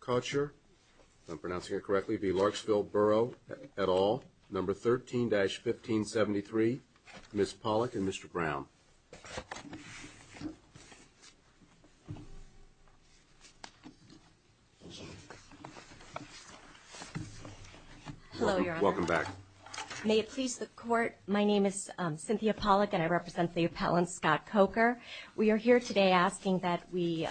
Cocher, if I'm pronouncing it correctly, v. Larksville Borough et al., number 13-1573. Ms. Pollack and Mr. Brown. Hello, Your Honor. Welcome back. May it please the Court, my name is Cynthia Pollack and I represent the appellant Scott Coker. We are here today asking that we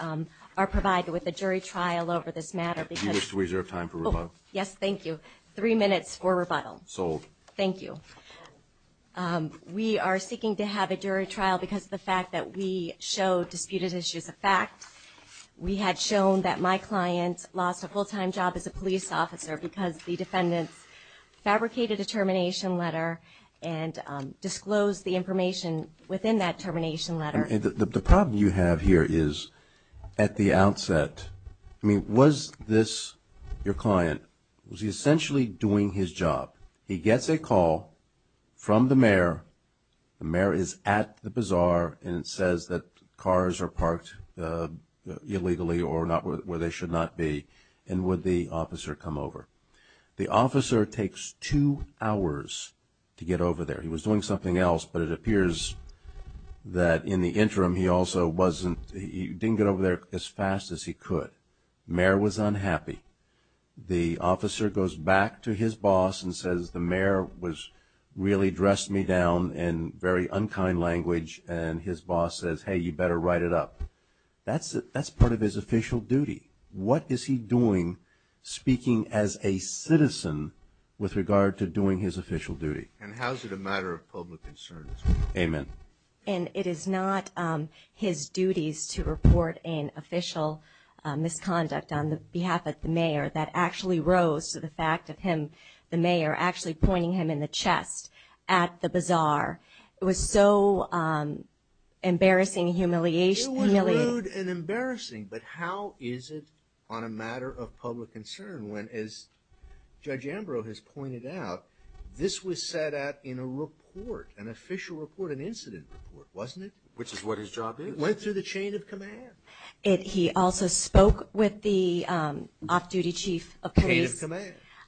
are provided with a jury trial over this matter. Do you wish to reserve time for rebuttal? Yes, thank you. Three minutes for rebuttal. Sold. Thank you. We are seeking to have a jury trial because of the fact that we showed disputed issues a fact. We had shown that my client lost a full-time job as a police officer because the defendants fabricated a termination letter and disclosed the information within that termination letter. The problem you have here is, at the outset, I mean, was this your client? Was he essentially doing his job? He gets a call from the mayor, the mayor is at the bazaar, and it says that cars are parked illegally or where they should not be, and would the officer come over? The officer takes two hours to get over there. He was doing something else, but it appears that in the interim he also wasn't, he didn't get over there as fast as he could. The mayor was unhappy. The officer goes back to his boss and says, the mayor really dressed me down in very unkind language, and his boss says, hey, you better write it up. That's part of his official duty. What is he doing speaking as a citizen with regard to doing his official duty? And how is it a matter of public concern? Amen. And it is not his duties to report an official misconduct on behalf of the mayor that actually rose to the fact of him, the mayor, actually pointing him in the chest at the bazaar. It was so embarrassing and humiliating. It was rude and embarrassing, but how is it on a matter of public concern when, as Judge Ambrose has pointed out, this was set out in a report, an official report, an incident report, wasn't it? Which is what his job is. It went through the chain of command. He also spoke with the off-duty chief of police.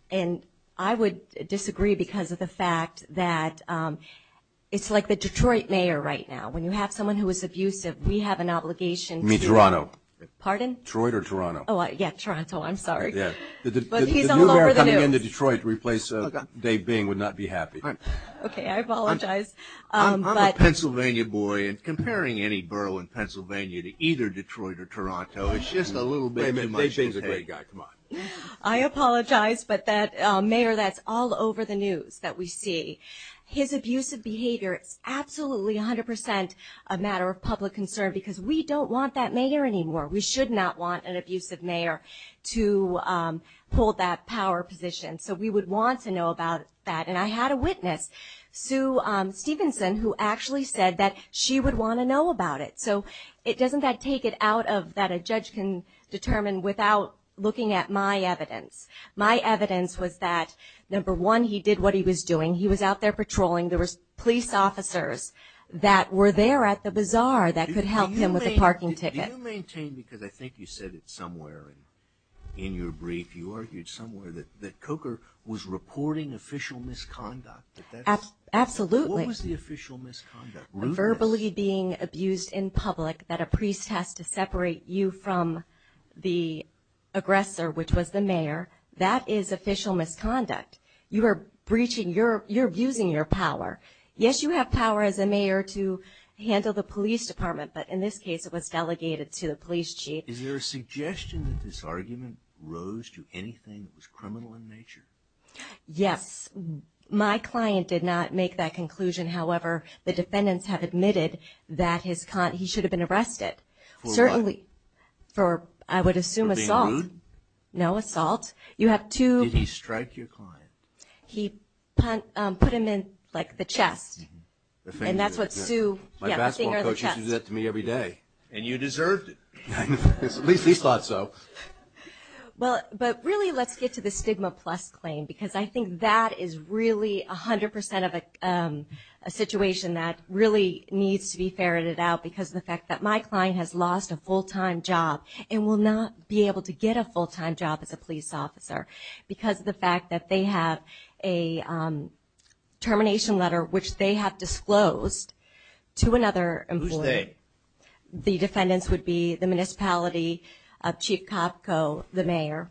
And I would disagree because of the fact that it's like the Detroit mayor right now. When you have someone who is abusive, we have an obligation to you. You mean Toronto? Pardon? Detroit or Toronto? Oh, yeah, Toronto, I'm sorry. But he's all over the news. The new mayor coming into Detroit to replace Dave Bing would not be happy. Okay, I apologize. I'm a Pennsylvania boy, and comparing any borough in Pennsylvania to either Detroit or Toronto, it's just a little bit too much to take. I apologize, but that mayor that's all over the news that we see, his abusive behavior is absolutely 100% a matter of public concern because we don't want that mayor anymore. We should not want an abusive mayor to hold that power position. So we would want to know about that. And I had a witness, Sue Stevenson, who actually said that she would want to know about it. So it doesn't take it out of that a judge can determine without looking at my evidence. My evidence was that, number one, he did what he was doing. He was out there patrolling. There were police officers that were there at the bazaar that could help him with a parking ticket. Do you maintain, because I think you said it somewhere in your brief, you argued somewhere that Coker was reporting official misconduct? Absolutely. What was the official misconduct? Verbally being abused in public that a priest has to separate you from the aggressor, which was the mayor, that is official misconduct. You are breaching, you're abusing your power. Yes, you have power as a mayor to handle the police department, but in this case it was delegated to the police chief. Is there a suggestion that this argument rose to anything that was criminal in nature? Yes. My client did not make that conclusion. However, the defendants have admitted that he should have been arrested. For what? For, I would assume, assault. For being rude? No, assault. Did he strike your client? He put him in, like, the chest. My basketball coach used to do that to me every day. And you deserved it. At least he thought so. Well, but really let's get to the stigma plus claim, because I think that is really 100% of a situation that really needs to be ferreted out because of the fact that my client has lost a full-time job and will not be able to get a full-time job as a police officer because of the fact that they have a termination letter, which they have disclosed to another employee. Who's they? The defendants would be the municipality, Chief Kopko, the mayor.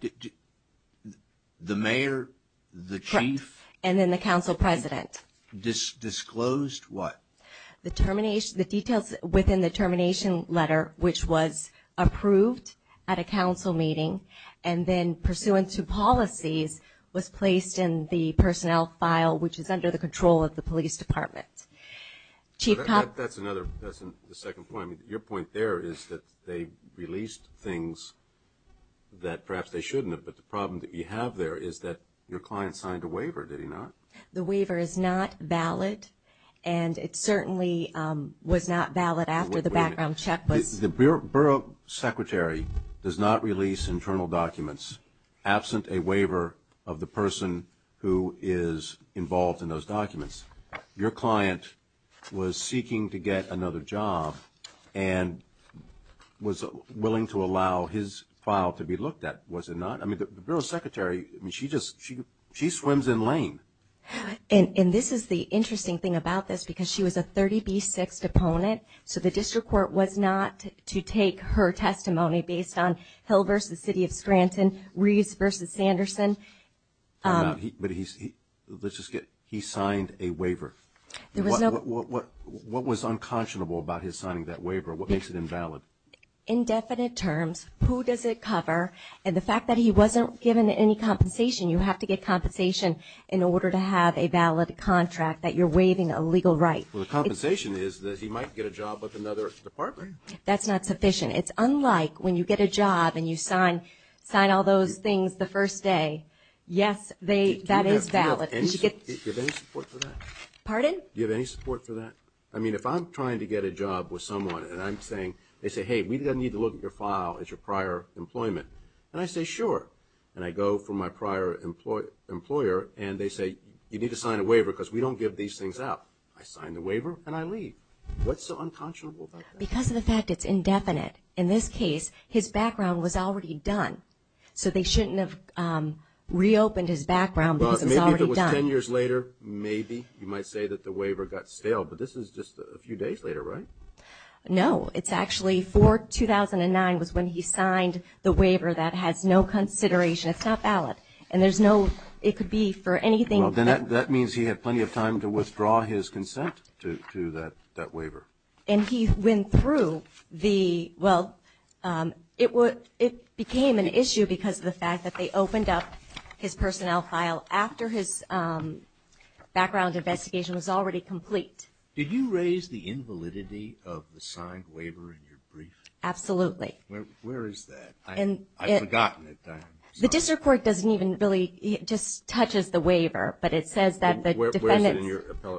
The mayor, the chief? Correct. And then the council president. Disclosed what? The details within the termination letter, which was approved at a council meeting and then pursuant to policies was placed in the personnel file, which is under the control of the police department. That's another, that's the second point. Your point there is that they released things that perhaps they shouldn't have, but the problem that you have there is that your client signed a waiver, did he not? The waiver is not valid, and it certainly was not valid after the background check was. The borough secretary does not release internal documents absent a waiver of the person who is involved in those documents. Your client was seeking to get another job and was willing to allow his file to be looked at, was it not? I mean, the borough secretary, I mean, she just, she swims in lane. And this is the interesting thing about this because she was a 30B6 opponent, so the district court was not to take her testimony based on Hill v. City of Scranton, Reeves v. Sanderson. But he, let's just get, he signed a waiver. What was unconscionable about his signing that waiver? What makes it invalid? Indefinite terms. Who does it cover? And the fact that he wasn't given any compensation, you have to get compensation in order to have a valid contract, that you're waiving a legal right. Well, the compensation is that he might get a job with another department. That's not sufficient. It's unlike when you get a job and you sign all those things the first day. Yes, that is valid. Do you have any support for that? Pardon? Do you have any support for that? I mean, if I'm trying to get a job with someone and I'm saying, they say, hey, we need to look at your file as your prior employment. And I say, sure. And I go for my prior employer and they say, you need to sign a waiver because we don't give these things out. I sign the waiver and I leave. What's so unconscionable about that? Because of the fact it's indefinite. In this case, his background was already done. So they shouldn't have reopened his background because it was already done. Maybe if it was ten years later, maybe. You might say that the waiver got stale. But this is just a few days later, right? No. It's actually for 2009 was when he signed the waiver that has no consideration. It's not valid. And there's no – it could be for anything. Well, then that means he had plenty of time to withdraw his consent to that waiver. And he went through the – well, it became an issue because of the fact that they opened up his personnel file after his background investigation was already complete. Did you raise the invalidity of the signed waiver in your brief? Absolutely. Where is that? I've forgotten it. The district court doesn't even really – it just touches the waiver. But it says that the defendant's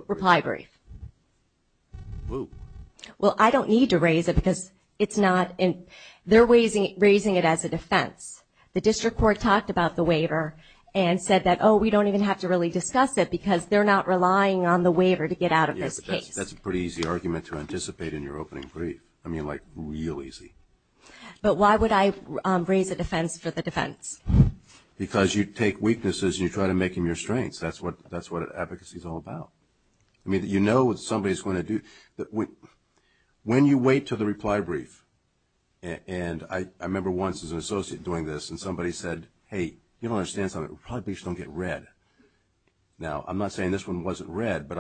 reply brief. Well, I don't need to raise it because it's not – they're raising it as a defense. The district court talked about the waiver and said that, oh, we don't even have to really discuss it because they're not relying on the waiver to get out of this case. Yeah, but that's a pretty easy argument to anticipate in your opening brief. I mean, like, real easy. But why would I raise a defense for the defense? Because you take weaknesses and you try to make them your strengths. That's what advocacy is all about. I mean, you know what somebody is going to do. When you wait to the reply brief, and I remember once as an associate doing this and somebody said, hey, you don't understand something, reply briefs don't get read. Now, I'm not saying this one wasn't read, but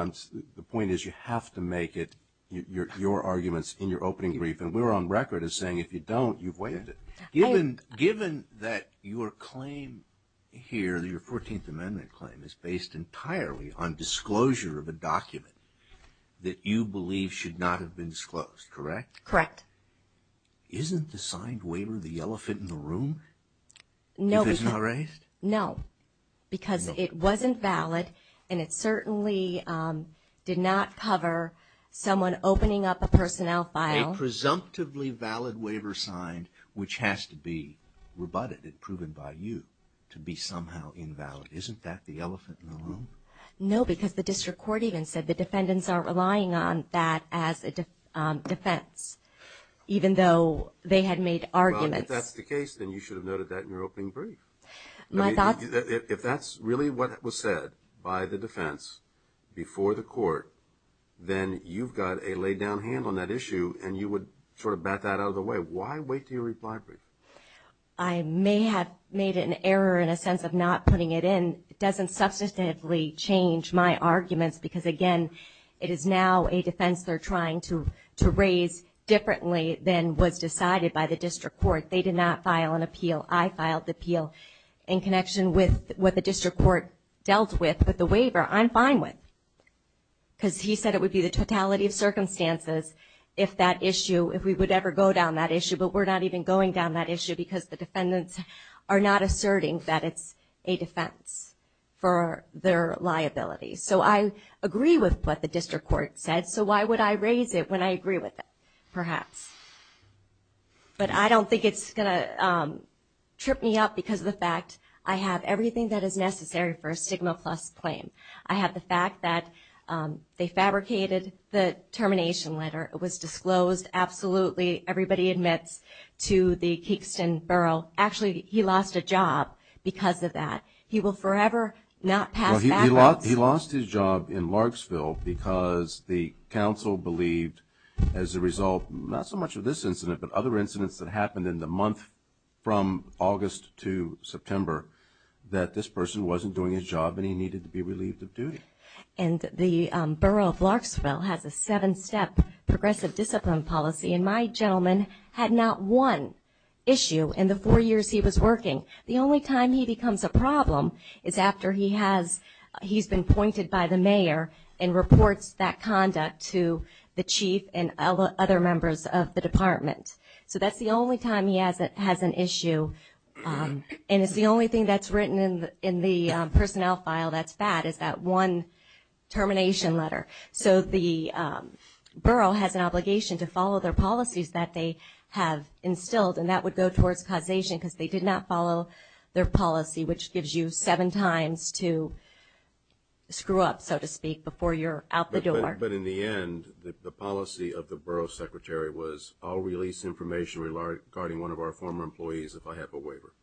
the point is you have to make it your arguments in your opening brief. And we were on record as saying if you don't, you've waived it. Given that your claim here, your 14th Amendment claim, is based entirely on disclosure of a document that you believe should not have been disclosed, correct? Correct. Isn't the signed waiver the elephant in the room if it's not raised? No, because it wasn't valid, and it certainly did not cover someone opening up a personnel file. A presumptively valid waiver signed, which has to be rebutted and proven by you to be somehow invalid. Isn't that the elephant in the room? No, because the district court even said the defendants aren't relying on that as a defense, even though they had made arguments. Well, if that's the case, then you should have noted that in your opening brief. If that's really what was said by the defense before the court, then you've got a laid-down hand on that issue and you would sort of bat that out of the way. Why wait to your reply brief? I may have made an error in a sense of not putting it in. It doesn't substantively change my arguments because, again, it is now a defense they're trying to raise differently than was decided by the district court. They did not file an appeal. I filed the appeal in connection with what the district court dealt with, but the waiver I'm fine with, because he said it would be the totality of circumstances if that issue, if we would ever go down that issue, but we're not even going down that issue because the defendants are not asserting that it's a defense for their liability. So I agree with what the district court said, so why would I raise it when I agree with it? Perhaps. But I don't think it's going to trip me up because of the fact I have everything that is necessary for a stigma-plus claim. I have the fact that they fabricated the termination letter. It was disclosed. Absolutely, everybody admits to the Keekston Borough. Actually, he lost a job because of that. He will forever not pass backwards. He lost his job in Largsville because the council believed as a result, not so much of this incident, but other incidents that happened in the month from August to September, that this person wasn't doing his job and he needed to be relieved of duty. And the Borough of Largsville has a seven-step progressive discipline policy, and my gentleman had not one issue in the four years he was working. The only time he becomes a problem is after he has been pointed by the mayor and reports that conduct to the chief and other members of the department. So that's the only time he has an issue, and it's the only thing that's written in the personnel file that's bad, is that one termination letter. So the borough has an obligation to follow their policies that they have instilled, and that would go towards causation because they did not follow their policy, which gives you seven times to screw up, so to speak, before you're out the door. But in the end, the policy of the borough secretary was, I'll release information regarding one of our former employees if I have a waiver.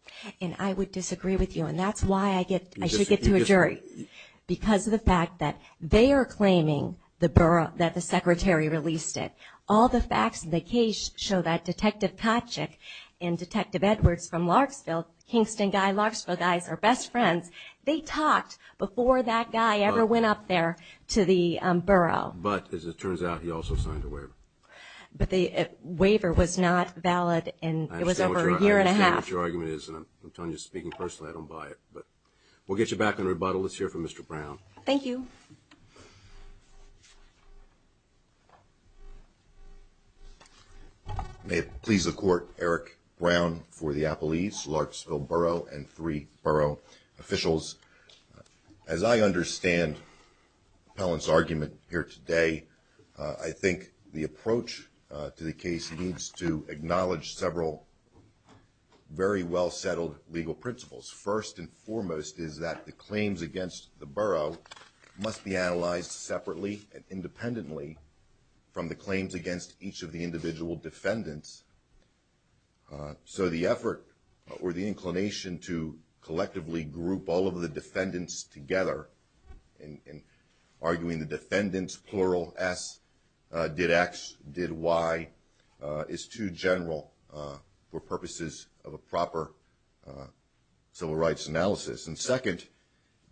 And I would disagree with you, and that's why I should get to a jury. Because of the fact that they are claiming that the secretary released it. All the facts in the case show that Detective Kotchick and Detective Edwards from Largsville, Kingston guys, Largsville guys, are best friends. They talked before that guy ever went up there to the borough. But as it turns out, he also signed a waiver. But the waiver was not valid, and it was over a year and a half. I understand what your argument is, and I'm telling you, speaking personally, I don't buy it. But we'll get you back on rebuttal. Let's hear from Mr. Brown. Thank you. May it please the Court, Eric Brown for the Appellees, Largsville Borough, and three borough officials. As I understand Pellin's argument here today, I think the approach to the case needs to acknowledge several very well-settled legal principles. First and foremost is that the claims against the borough must be analyzed separately and independently from the claims against each of the individual defendants. So the effort or the inclination to collectively group all of the defendants together, arguing the defendants, plural, S, did X, did Y, is too general for purposes of a proper civil rights analysis. And second,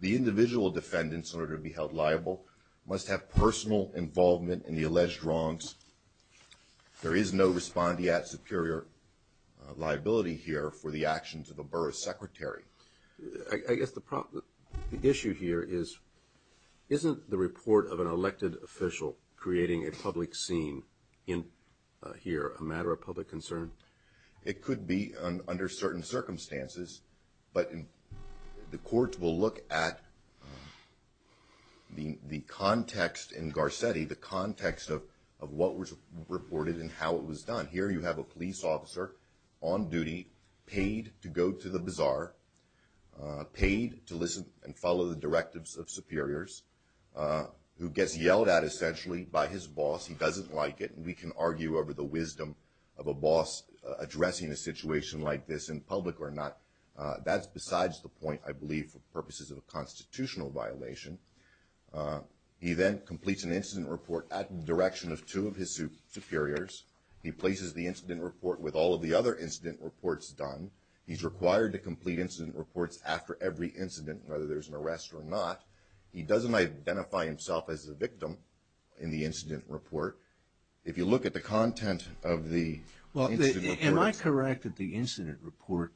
the individual defendants, in order to be held liable, must have personal involvement in the alleged wrongs. There is no respondeat superior liability here for the actions of a borough secretary. I guess the issue here is, isn't the report of an elected official creating a public scene here a matter of public concern? It could be under certain circumstances, but the Court will look at the context in Garcetti, the context of what was reported and how it was done. Here you have a police officer on duty, paid to go to the bazaar, paid to listen and follow the directives of superiors, who gets yelled at, essentially, by his boss. He doesn't like it. We can argue over the wisdom of a boss addressing a situation like this in public or not. That's besides the point, I believe, for purposes of a constitutional violation. He then completes an incident report at the direction of two of his superiors. He places the incident report with all of the other incident reports done. He's required to complete incident reports after every incident, whether there's an arrest or not. He doesn't identify himself as the victim in the incident report. If you look at the content of the incident report...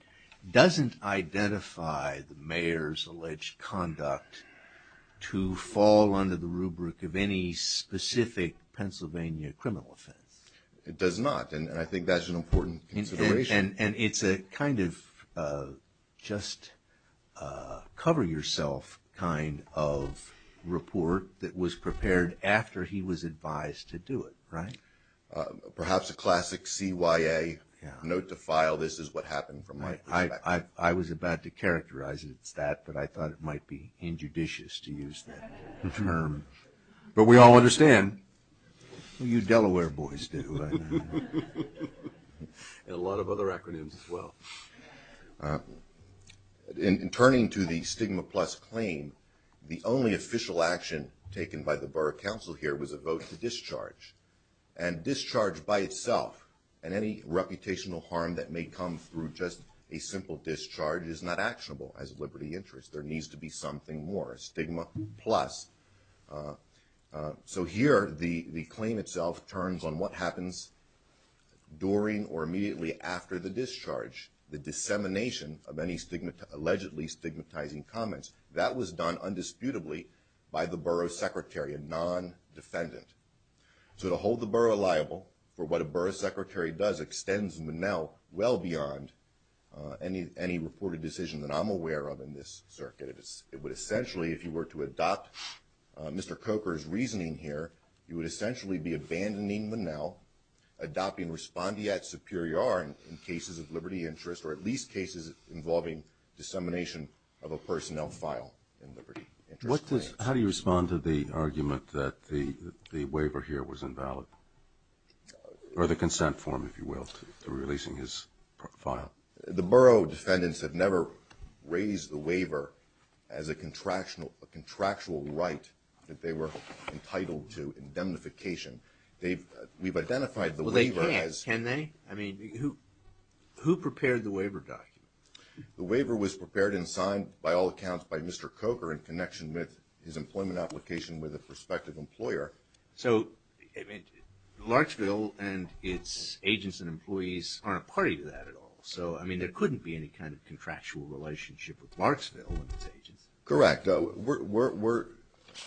...to fall under the rubric of any specific Pennsylvania criminal offense. It does not, and I think that's an important consideration. And it's a kind of just-cover-yourself kind of report that was prepared after he was advised to do it, right? Perhaps a classic CYA, note to file, this is what happened from my perspective. I was about to characterize it as that, but I thought it might be injudicious to use that term. But we all understand. You Delaware boys do. And a lot of other acronyms as well. In turning to the stigma plus claim, the only official action taken by the borough council here was a vote to discharge. And discharge by itself and any reputational harm that may come through just a simple discharge is not actionable as a liberty interest. There needs to be something more. Stigma plus. So here the claim itself turns on what happens during or immediately after the discharge. The dissemination of any allegedly stigmatizing comments. That was done undisputably by the borough secretary, a non-defendant. So to hold the borough liable for what a borough secretary does extends Monell well beyond any reported decision that I'm aware of in this circuit. It would essentially, if you were to adopt Mr. Coker's reasoning here, you would essentially be abandoning Monell, adopting respondeat superior in cases of liberty interest or at least cases involving dissemination of a personnel file in liberty interest. How do you respond to the argument that the waiver here was invalid? Or the consent form, if you will, to releasing his file? The borough defendants have never raised the waiver as a contractual right that they were entitled to indemnification. We've identified the waiver as. Well, they can't, can they? I mean, who prepared the waiver document? The waiver was prepared and signed by all accounts by Mr. Coker in connection with his employment application with a prospective employer. So, I mean, Larksville and its agents and employees aren't party to that at all. So, I mean, there couldn't be any kind of contractual relationship with Larksville and its agents. Correct. We're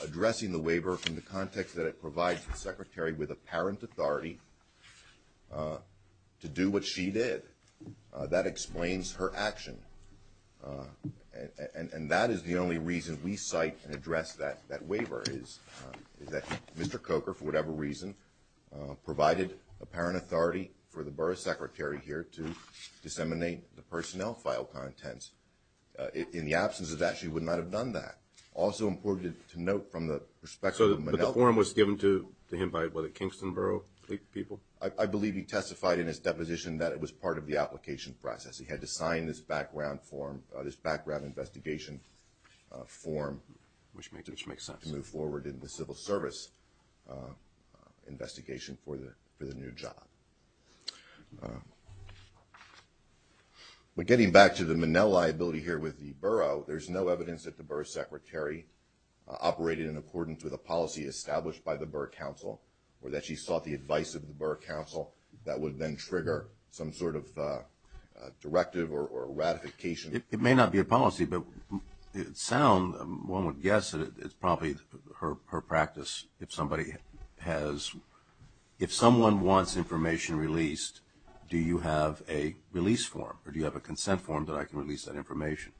addressing the waiver from the context that it provides the secretary with apparent authority to do what she did. That explains her action. And that is the only reason we cite and address that waiver is that Mr. Coker, for whatever reason, provided apparent authority for the borough secretary here to disseminate the personnel file contents. In the absence of that, she would not have done that. Also important to note from the perspective of Manelka. So the form was given to him by the Kingston Borough people? I believe he testified in his deposition that it was part of the application process. He had to sign this background form, this background investigation form. Which makes sense. To move forward in the civil service investigation for the new job. But getting back to the Manelka liability here with the borough, there's no evidence that the borough secretary operated in accordance with a policy established by the borough council or that she sought the advice of the borough council that would then trigger some sort of directive or ratification. It may not be a policy, but it sounds, one would guess that it's probably her practice if somebody has, if someone wants information released, do you have a release form? Or do you have a consent form that I can release that information?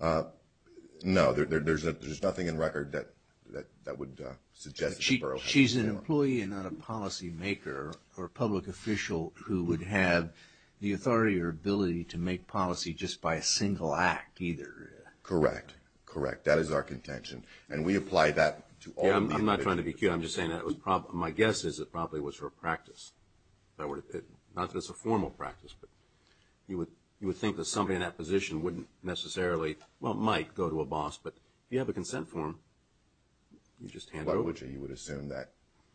No, there's nothing in record that would suggest that the borough council. She's an employee and not a policymaker or public official who would have the authority or ability to make policy just by a single act either. Correct, correct. That is our contention. And we apply that to all of the investigators. I'm not trying to be cute. I'm just saying that my guess is it probably was her practice. Not that it's a formal practice, but you would think that somebody in that position wouldn't necessarily, well, might go to a boss, but if you have a consent form, you just hand it over. You would assume that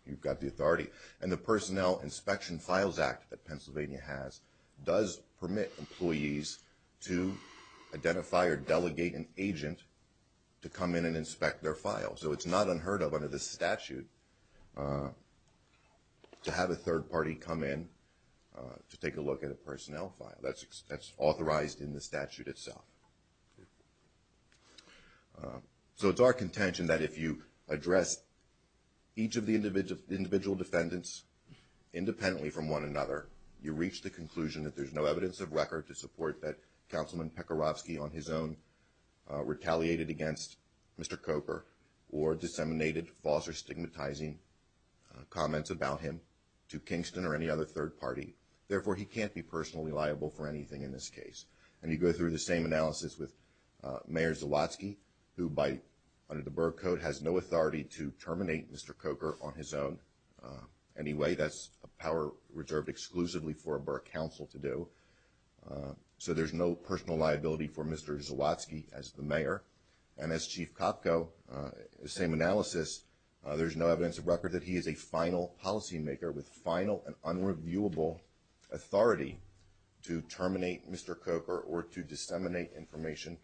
you've got the authority. And the Personnel Inspection Files Act that Pennsylvania has does permit employees to identify or delegate an agent to come in and inspect their file. So it's not unheard of under this statute to have a third party come in to take a look at a personnel file. That's authorized in the statute itself. So it's our contention that if you address each of the individual defendants independently from one another, you reach the conclusion that there's no evidence of record to support that Councilman Pekorovsky on his own retaliated against Mr. Cooper or disseminated false or stigmatizing comments about him to Kingston or any other third party. Therefore, he can't be personally liable for anything in this case. And you go through the same analysis with Mayor Zawadzki, who under the Burr Code has no authority to terminate Mr. Coker on his own anyway. That's a power reserved exclusively for a Burr Council to do. So there's no personal liability for Mr. Zawadzki as the mayor. And as Chief Kopko, the same analysis, there's no evidence of record that he is a final policymaker with final and unreviewable authority to terminate Mr. Coker or to disseminate information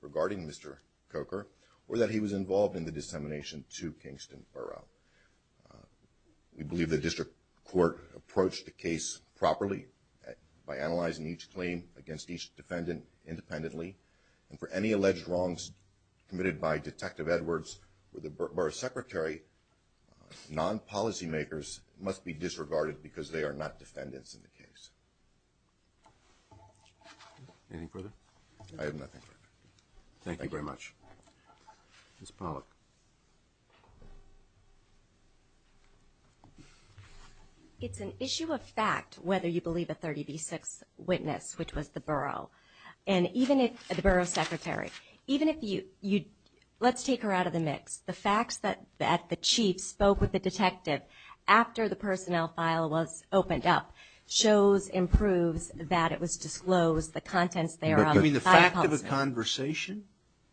regarding Mr. Coker or that he was involved in the dissemination to Kingston Borough. We believe the district court approached the case properly by analyzing each claim against each defendant independently. And for any alleged wrongs committed by Detective Edwards or the Burr secretary, non-policymakers must be disregarded because they are not defendants in the case. Anything further? I have nothing further. Thank you very much. Ms. Pollack. It's an issue of fact whether you believe a 30B6 witness, which was the Burrough, and even if the Burrough secretary, even if you, let's take her out of the mix. The facts that the chief spoke with the detective after the personnel file was opened up shows and proves that it was disclosed, the contents thereof. You mean the fact of the conversation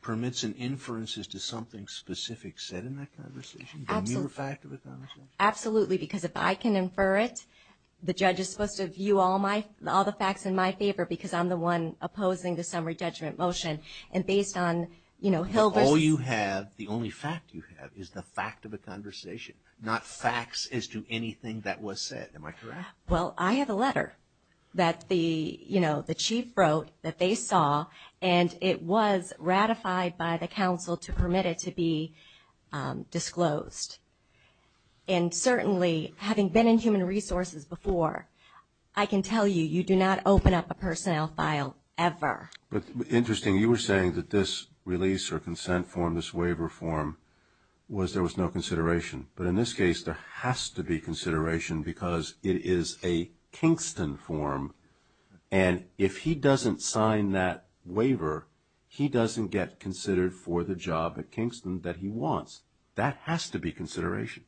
permits an inference as to something specific said in that conversation? Absolutely. The mere fact of the conversation? Absolutely. Because if I can infer it, the judge is supposed to view all the facts in my favor because I'm the one opposing the summary judgment motion. And based on, you know, Hilbert's... All you have, the only fact you have is the fact of the conversation, not facts as to anything that was said. Am I correct? Well, I have a letter that the, you know, the chief wrote that they saw and it was ratified by the counsel to permit it to be disclosed. And certainly, having been in human resources before, I can tell you, you do not open up a personnel file ever. But interesting, you were saying that this release or consent form, this waiver form, was there was no consideration. But in this case, there has to be consideration because it is a Kingston form. And if he doesn't sign that waiver, he doesn't get considered for the job at Kingston that he wants. That has to be consideration.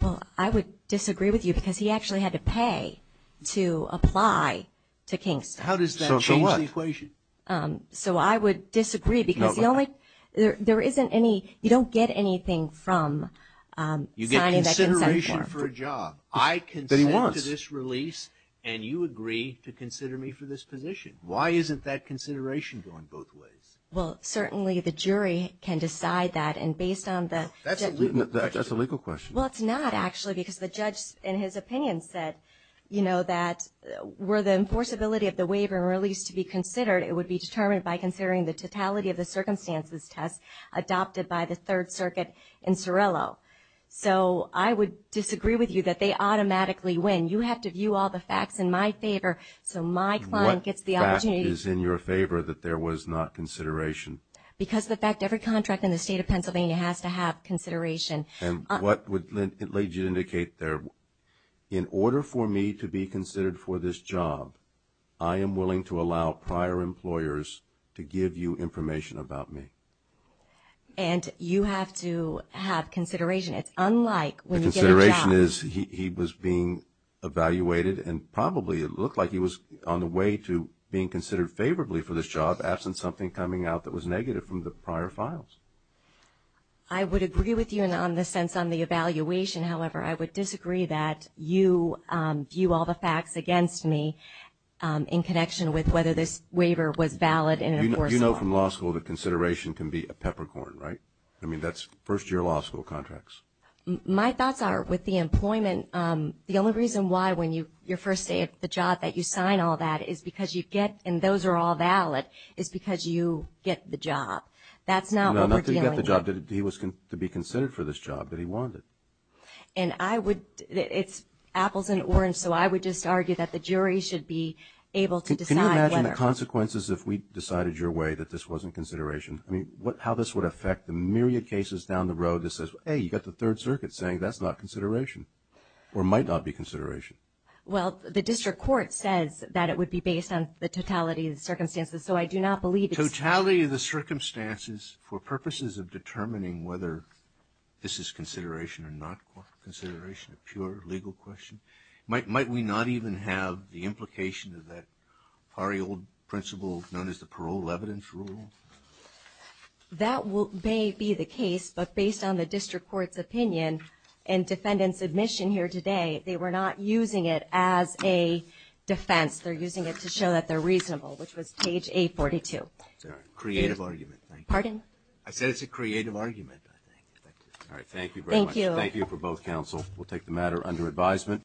Well, I would disagree with you because he actually had to pay to apply to Kingston. How does that change the equation? So I would disagree because the only... There isn't any... You don't get anything from signing that consent form. You get consideration for a job. I consent to this release and you agree to consider me for this position. Why isn't that consideration going both ways? Well, certainly the jury can decide that. And based on the... That's a legal question. Well, it's not actually because the judge in his opinion said, you know, that were the enforceability of the waiver and release to be considered, it would be determined by considering the totality of the circumstances test adopted by the Third Circuit in Sorello. So I would disagree with you that they automatically win. You have to view all the facts in my favor so my client gets the opportunity... What fact is in your favor that there was not consideration? Because of the fact every contract in the state of Pennsylvania has to have consideration. And what would it lead you to indicate there? In order for me to be considered for this job, I am willing to allow prior employers to give you information about me. And you have to have consideration. It's unlike when you get a job... The consideration is he was being evaluated and probably it looked like he was on the way to being considered favorably for this job absent something coming out that was negative from the prior files. I would agree with you in the sense on the evaluation. However, I would disagree that you view all the facts against me in connection with whether this waiver was valid and enforceable. You know from law school that consideration can be a peppercorn, right? I mean, that's first-year law school contracts. My thoughts are with the employment, the only reason why when you're first at the job that you sign all that is because you get and those are all valid is because you get the job. That's not what we're dealing with. He was to be considered for this job, but he wanted. And I would, it's apples and oranges, so I would just argue that the jury should be able to decide whether... Can you imagine the consequences if we decided your way that this wasn't consideration? I mean, how this would affect the myriad cases down the road that says, hey, you got the Third Circuit saying that's not consideration or might not be consideration. Well, the district court says that it would be based on the totality of the circumstances, so I do not believe it's... Totality of the circumstances for purposes of determining whether this is consideration or not consideration, a pure legal question. Might we not even have the implication of that pari-old principle known as the parole evidence rule? That may be the case, but based on the district court's opinion and defendant's admission here today, they were not using it as a defense. They're using it to show that they're reasonable, which was page 842. Creative argument. Pardon? I said it's a creative argument. All right, thank you very much. Thank you. Thank you for both counsel. We'll take the matter under advisement.